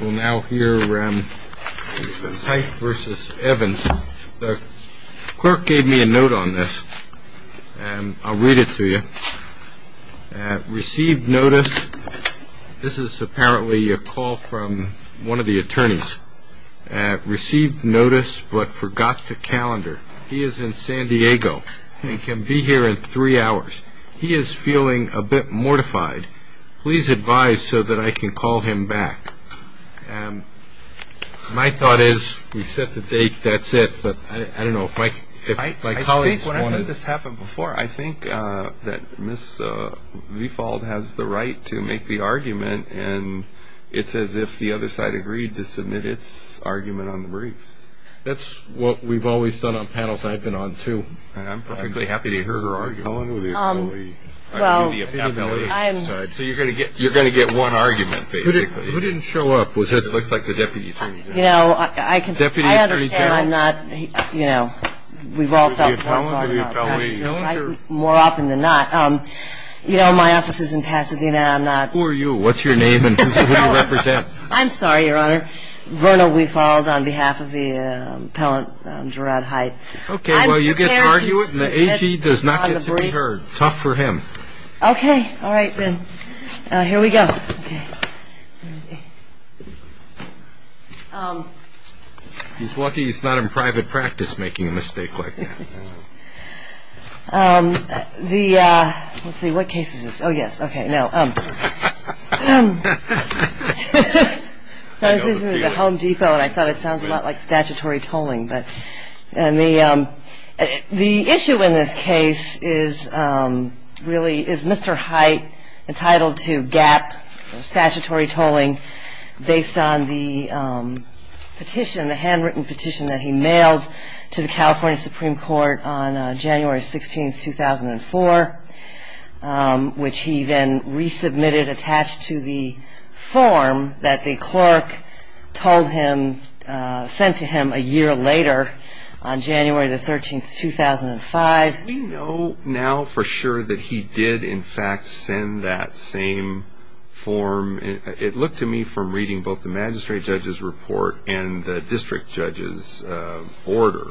We'll now hear Hite v. Evans. The clerk gave me a note on this, and I'll read it to you. Received notice. This is apparently a call from one of the attorneys. Received notice, but forgot to calendar. He is in San Diego and can be here in three hours. He is feeling a bit mortified. Please advise so that I can call him back. My thought is we set the date, that's it, but I don't know if my colleagues want it. I think when I've had this happen before, I think that Ms. Vifold has the right to make the argument, and it's as if the other side agreed to submit its argument on the briefs. That's what we've always done on panels I've been on, too. I'm perfectly happy to hear her argument. So you're going to get one argument, basically. Who didn't show up? It looks like the deputy attorney general. You know, I understand I'm not, you know, we've all felt that. More often than not. You know, my office is in Pasadena. Who are you? What's your name, and who do you represent? I'm sorry, Your Honor. Verna Vifold on behalf of the appellant Gerard Hite. Okay, well, you get to argue it, and the AP does not get to be heard. Tough for him. Okay. All right, then. Here we go. He's lucky he's not in private practice making a mistake like that. Let's see, what case is this? Oh, yes. Okay, no. This is the Home Depot, and I thought it sounds a lot like statutory tolling. But the issue in this case is really is Mr. Hite entitled to gap or statutory tolling based on the petition, the handwritten petition that he mailed to the California Supreme Court on January 16th, 2004, which he then resubmitted attached to the form that the clerk told him, sent to him a year later on January the 13th, 2005. We know now for sure that he did, in fact, send that same form. It looked to me from reading both the magistrate judge's report and the district judge's order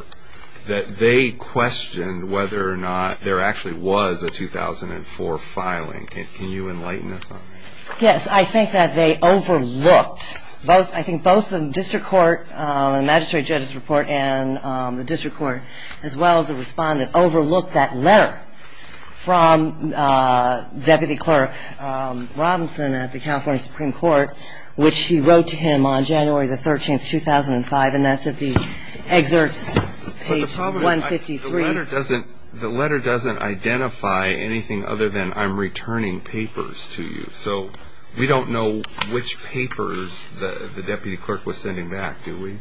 that they questioned whether or not there actually was a 2004 filing. Can you enlighten us on that? Yes, I think that they overlooked, I think both the district court, the magistrate judge's report, and the district court, as well as the respondent, overlooked that letter from Deputy Clerk Robinson at the California Supreme Court, which he wrote to him on January the 13th, 2005, and that's at the excerpts page 153. But the problem is the letter doesn't identify anything other than I'm returning papers to you. So we don't know which papers the deputy clerk was sending back, do we?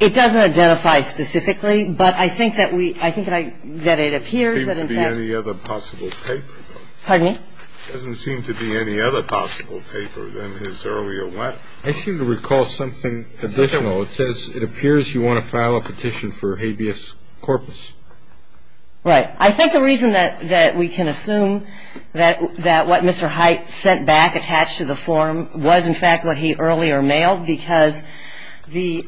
It doesn't identify specifically, but I think that we – I think that it appears that, in fact – There doesn't seem to be any other possible paper, though. Pardon me? There doesn't seem to be any other possible paper than his earlier one. I seem to recall something additional. It says, it appears you want to file a petition for habeas corpus. Right. I think the reason that we can assume that what Mr. Hite sent back attached to the form was, in fact, what he earlier mailed, because the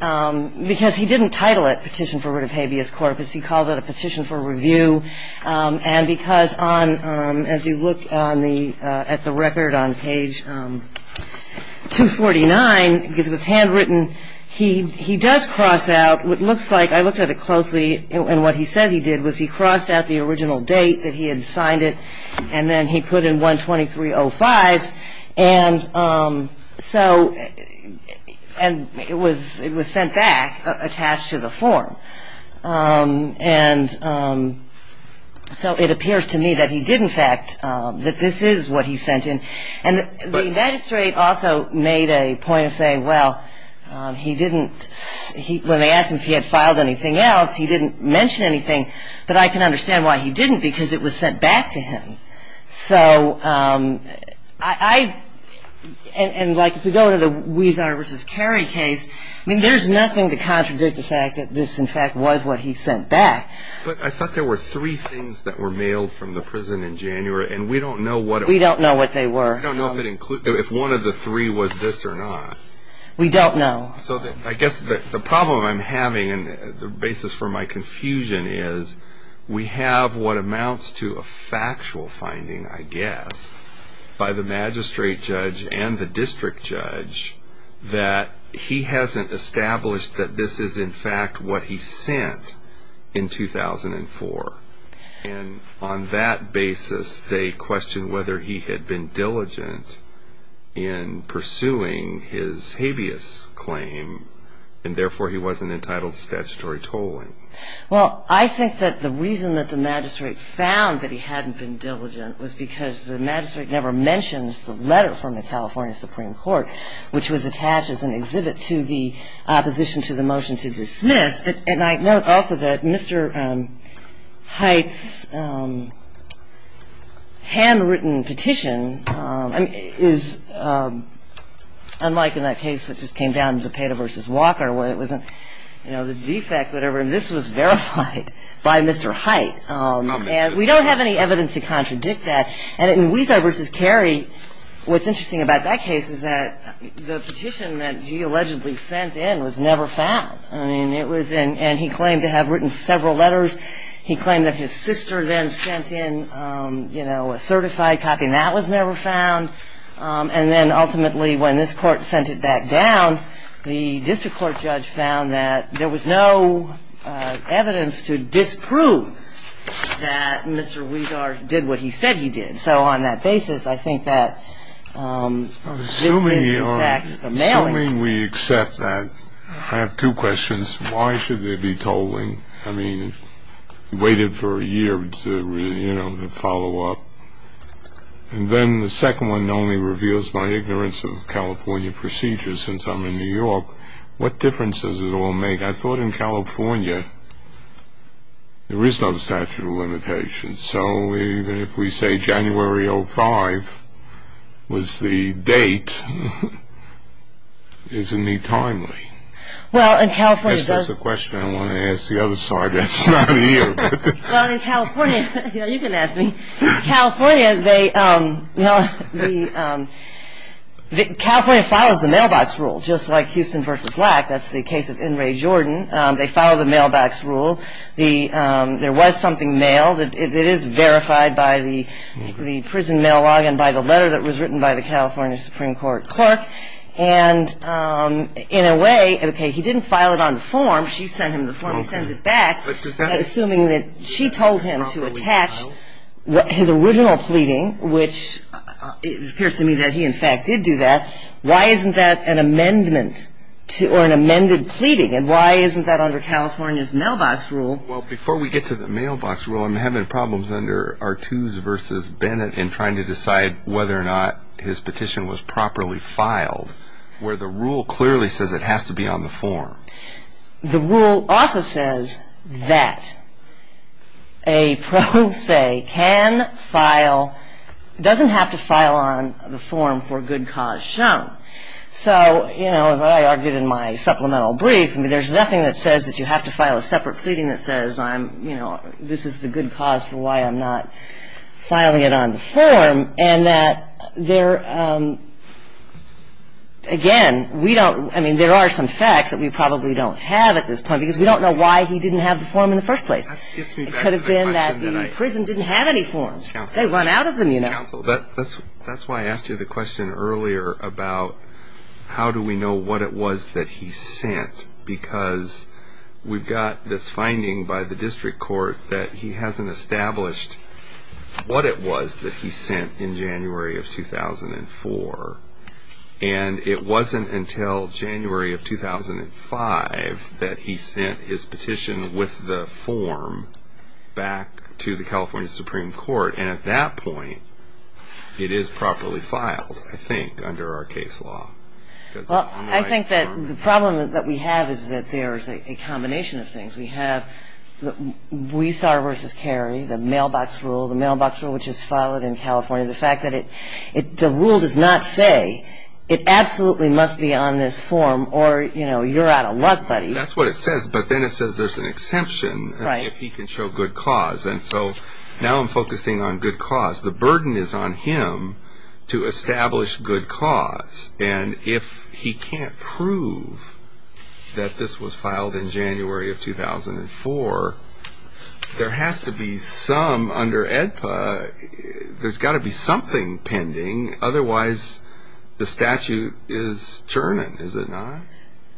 – because he didn't title it petition for writ of habeas corpus. He called it a petition for review. And because on – as you look on the – at the record on page 249, because it was handwritten, he does cross out what looks like – I looked at it closely, and what he says he did was he crossed out the original date that he had signed it, and then he put in 1-2305, and so – and it was sent back attached to the form. And so it appears to me that he did, in fact, that this is what he sent in. And the magistrate also made a point of saying, well, he didn't – when they asked him if he had filed anything else, he didn't mention anything, but I can understand why he didn't, because it was sent back to him. So I – and like if we go to the Huizar v. Carey case, I mean, there's nothing to contradict the fact that this, in fact, was what he sent back. But I thought there were three things that were mailed from the prison in January, and we don't know what it was. We don't know what they were. We don't know if it included – if one of the three was this or not. We don't know. So I guess the problem I'm having, and the basis for my confusion, is we have what amounts to a factual finding, I guess, by the magistrate judge and the district judge, that he hasn't established that this is, in fact, what he sent in 2004. And on that basis, they question whether he had been diligent in pursuing his habeas claim, and therefore he wasn't entitled to statutory tolling. Well, I think that the reason that the magistrate found that he hadn't been diligent was because the magistrate never mentioned the letter from the California Supreme Court, which was attached as an exhibit to the opposition to the motion to dismiss. And I note also that Mr. Hite's handwritten petition is unlike in that case that just came down, Zepeda v. Walker, where it wasn't, you know, the defect, whatever, and this was verified by Mr. Hite. And we don't have any evidence to contradict that. And in Huizar v. Carey, what's interesting about that case is that the petition that he allegedly sent in was never found. I mean, it was in — and he claimed to have written several letters. He claimed that his sister then sent in, you know, a certified copy, and that was never found. And then ultimately, when this Court sent it back down, the district court judge found that there was no evidence to disprove that Mr. Huizar did what he said he did. So on that basis, I think that this is, in fact, a mailing. Assuming we accept that, I have two questions. Why should there be tolling? I mean, we waited for a year to, you know, to follow up. And then the second one only reveals my ignorance of California procedures since I'm in New York. What difference does it all make? I thought in California there is no statute of limitations. So even if we say January 05 was the date, isn't he timely? Well, in California — Is this a question I want to ask the other side that's not here? Well, in California — you know, you can ask me. California, they — California follows the mailbox rule, just like Houston v. Lack. That's the case of In re Jordan. They follow the mailbox rule. There was something mailed. It is verified by the prison mail log and by the letter that was written by the California Supreme Court clerk. And in a way — okay, he didn't file it on the form. She sent him the form. He sends it back, assuming that she told him to attach his original pleading, which it appears to me that he, in fact, did do that. Why isn't that an amendment to — or an amended pleading? And why isn't that under California's mailbox rule? Well, before we get to the mailbox rule, I'm having problems under Artuse v. Bennett in trying to decide whether or not his petition was properly filed, where the rule clearly says it has to be on the form. The rule also says that a pro se can file — doesn't have to file on the form for good cause shown. So, you know, as I argued in my supplemental brief, I mean, there's nothing that says that you have to file a separate pleading that says, you know, this is the good cause for why I'm not filing it on the form. And that there — again, we don't — I mean, there are some facts that we probably don't have at this point because we don't know why he didn't have the form in the first place. It could have been that the prison didn't have any forms. They run out of them, you know. That's why I asked you the question earlier about how do we know what it was that he sent, because we've got this finding by the district court that he hasn't established what it was that he sent in January of 2004. And it wasn't until January of 2005 that he sent his petition with the form back to the California Supreme Court. And at that point, it is properly filed, I think, under our case law. Well, I think that the problem that we have is that there is a combination of things. We have the Weissauer v. Carey, the mailbox rule, the mailbox rule which is filed in California, the fact that it — the rule does not say it absolutely must be on this form or, you know, you're out of luck, buddy. That's what it says. But then it says there's an exemption if he can show good cause. And so now I'm focusing on good cause. The burden is on him to establish good cause. And if he can't prove that this was filed in January of 2004, there has to be some — under AEDPA, there's got to be something pending. Otherwise, the statute is churning, is it not?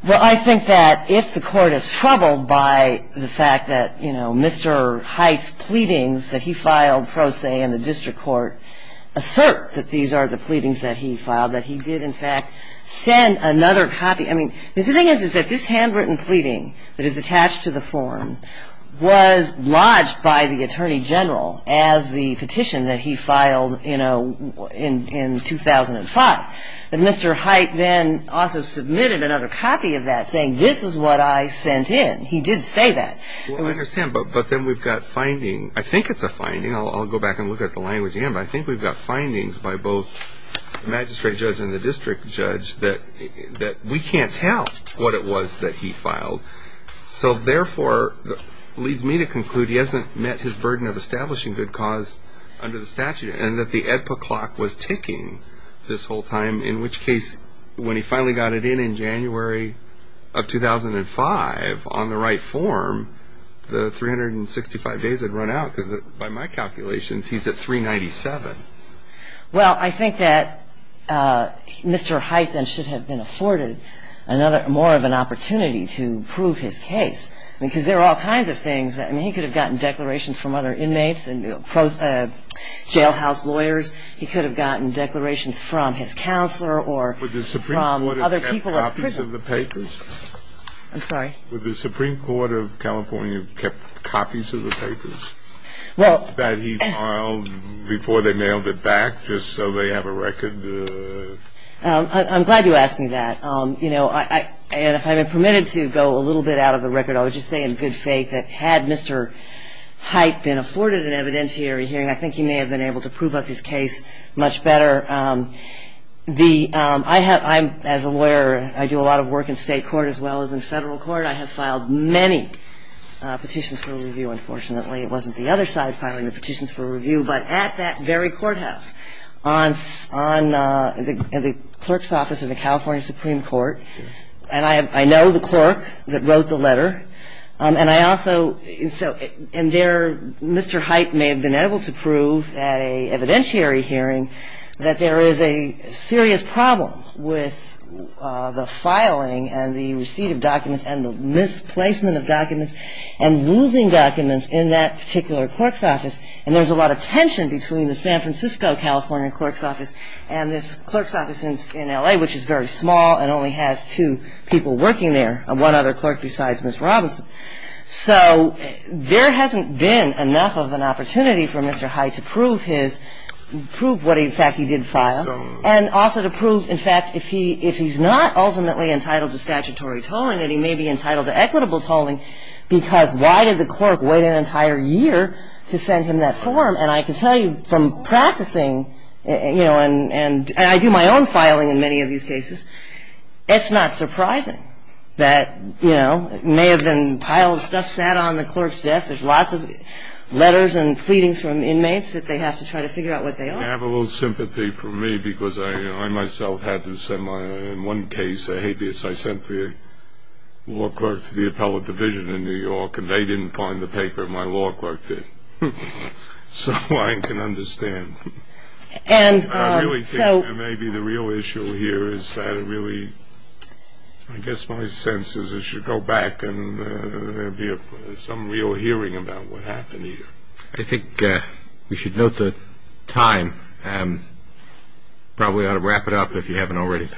Well, I think that if the court is troubled by the fact that, you know, Mr. Hite's pleadings that he filed pro se in the district court assert that these are the pleadings that he filed, that he did, in fact, send another copy — I mean, because the thing is, is that this handwritten pleading that is attached to the form was lodged by the attorney general as the petition that he filed, you know, in 2005. But Mr. Hite then also submitted another copy of that saying, this is what I sent in. He did say that. Well, I understand. But then we've got finding — I think it's a finding. I'll go back and look at the language again. But I think we've got findings by both the magistrate judge and the district judge that we can't tell what it was that he filed. So, therefore, it leads me to conclude he hasn't met his burden of establishing good cause under the statute and that the EDPA clock was ticking this whole time, in which case when he finally got it in in January of 2005 on the right form, the 365 days had run out because, by my calculations, he's at 397. Well, I think that Mr. Hite then should have been afforded more of an opportunity to prove his case because there are all kinds of things. I mean, he could have gotten declarations from other inmates and jailhouse lawyers. He could have gotten declarations from his counselor or from other people at prison. Would the Supreme Court have kept copies of the papers? I'm sorry? Would the Supreme Court of California have kept copies of the papers that he filed before they nailed it back just so they have a record? I'm glad you asked me that. You know, and if I'm permitted to go a little bit out of the record, I would just say in good faith that had Mr. Hite been afforded an evidentiary hearing, I think he may have been able to prove up his case much better. As a lawyer, I do a lot of work in state court as well as in federal court. I have filed many petitions for review, unfortunately. It wasn't the other side filing the petitions for review, but at that very courthouse in the clerk's office of the California Supreme Court. And I know the clerk that wrote the letter. And I also so and there Mr. Hite may have been able to prove at an evidentiary hearing that there is a serious problem with the filing and the receipt of documents and the misplacement of documents and losing documents in that particular clerk's office. And there's a lot of tension between the San Francisco California clerk's office and this clerk's office in L.A., which is very small and only has two people working there and one other clerk besides Ms. Robinson. So there hasn't been enough of an opportunity for Mr. Hite to prove his – prove what, in fact, he did file and also to prove, in fact, if he's not ultimately entitled to statutory tolling, that he may be entitled to equitable tolling because why did the clerk wait an entire year to send him that form? And I can tell you from practicing, you know, and I do my own filing in many of these cases, it's not surprising that, you know, it may have been piles of stuff sat on the clerk's desk. There's lots of letters and pleadings from inmates that they have to try to figure out what they are. I have a little sympathy for me because I myself had to send my – in one case, a habeas, I sent the law clerk to the appellate division in New York and they didn't find the paper my law clerk did. So I can understand. And so – I really think that maybe the real issue here is that it really – I guess my sense is it should go back and there'd be some real hearing about what happened here. I think we should note the time. Probably ought to wrap it up if you haven't already.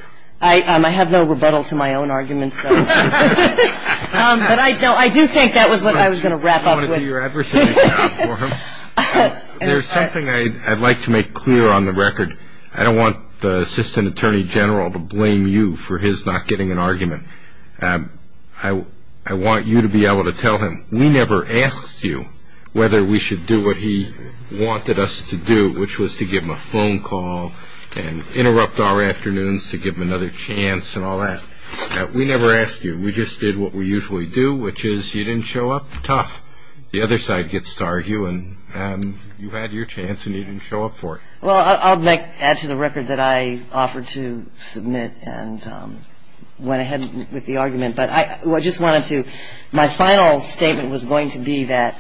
I have no rebuttal to my own arguments. But I do think that was what I was going to wrap up with. Thank you, Your Adversary. There's something I'd like to make clear on the record. I don't want the Assistant Attorney General to blame you for his not getting an argument. I want you to be able to tell him we never asked you whether we should do what he wanted us to do, which was to give him a phone call and interrupt our afternoons to give him another chance and all that. We never asked you. We just did what we usually do, which is you didn't show up. Tough. The other side gets to argue and you had your chance and you didn't show up for it. Well, I'll add to the record that I offered to submit and went ahead with the argument. But I just wanted to – my final statement was going to be that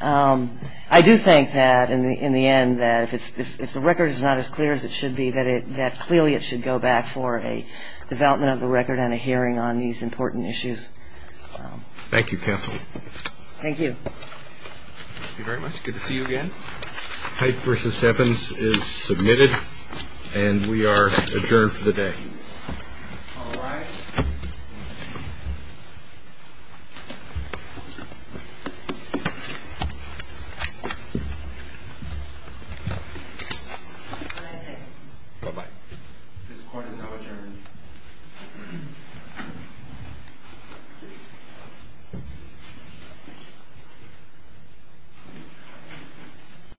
I do think that in the end that if the record is not as clear as it should be, that clearly it should go back for a development of the record and a hearing on these important issues. Thank you, Counsel. Thank you. Thank you very much. Good to see you again. All right. This court is now adjourned. Thank you.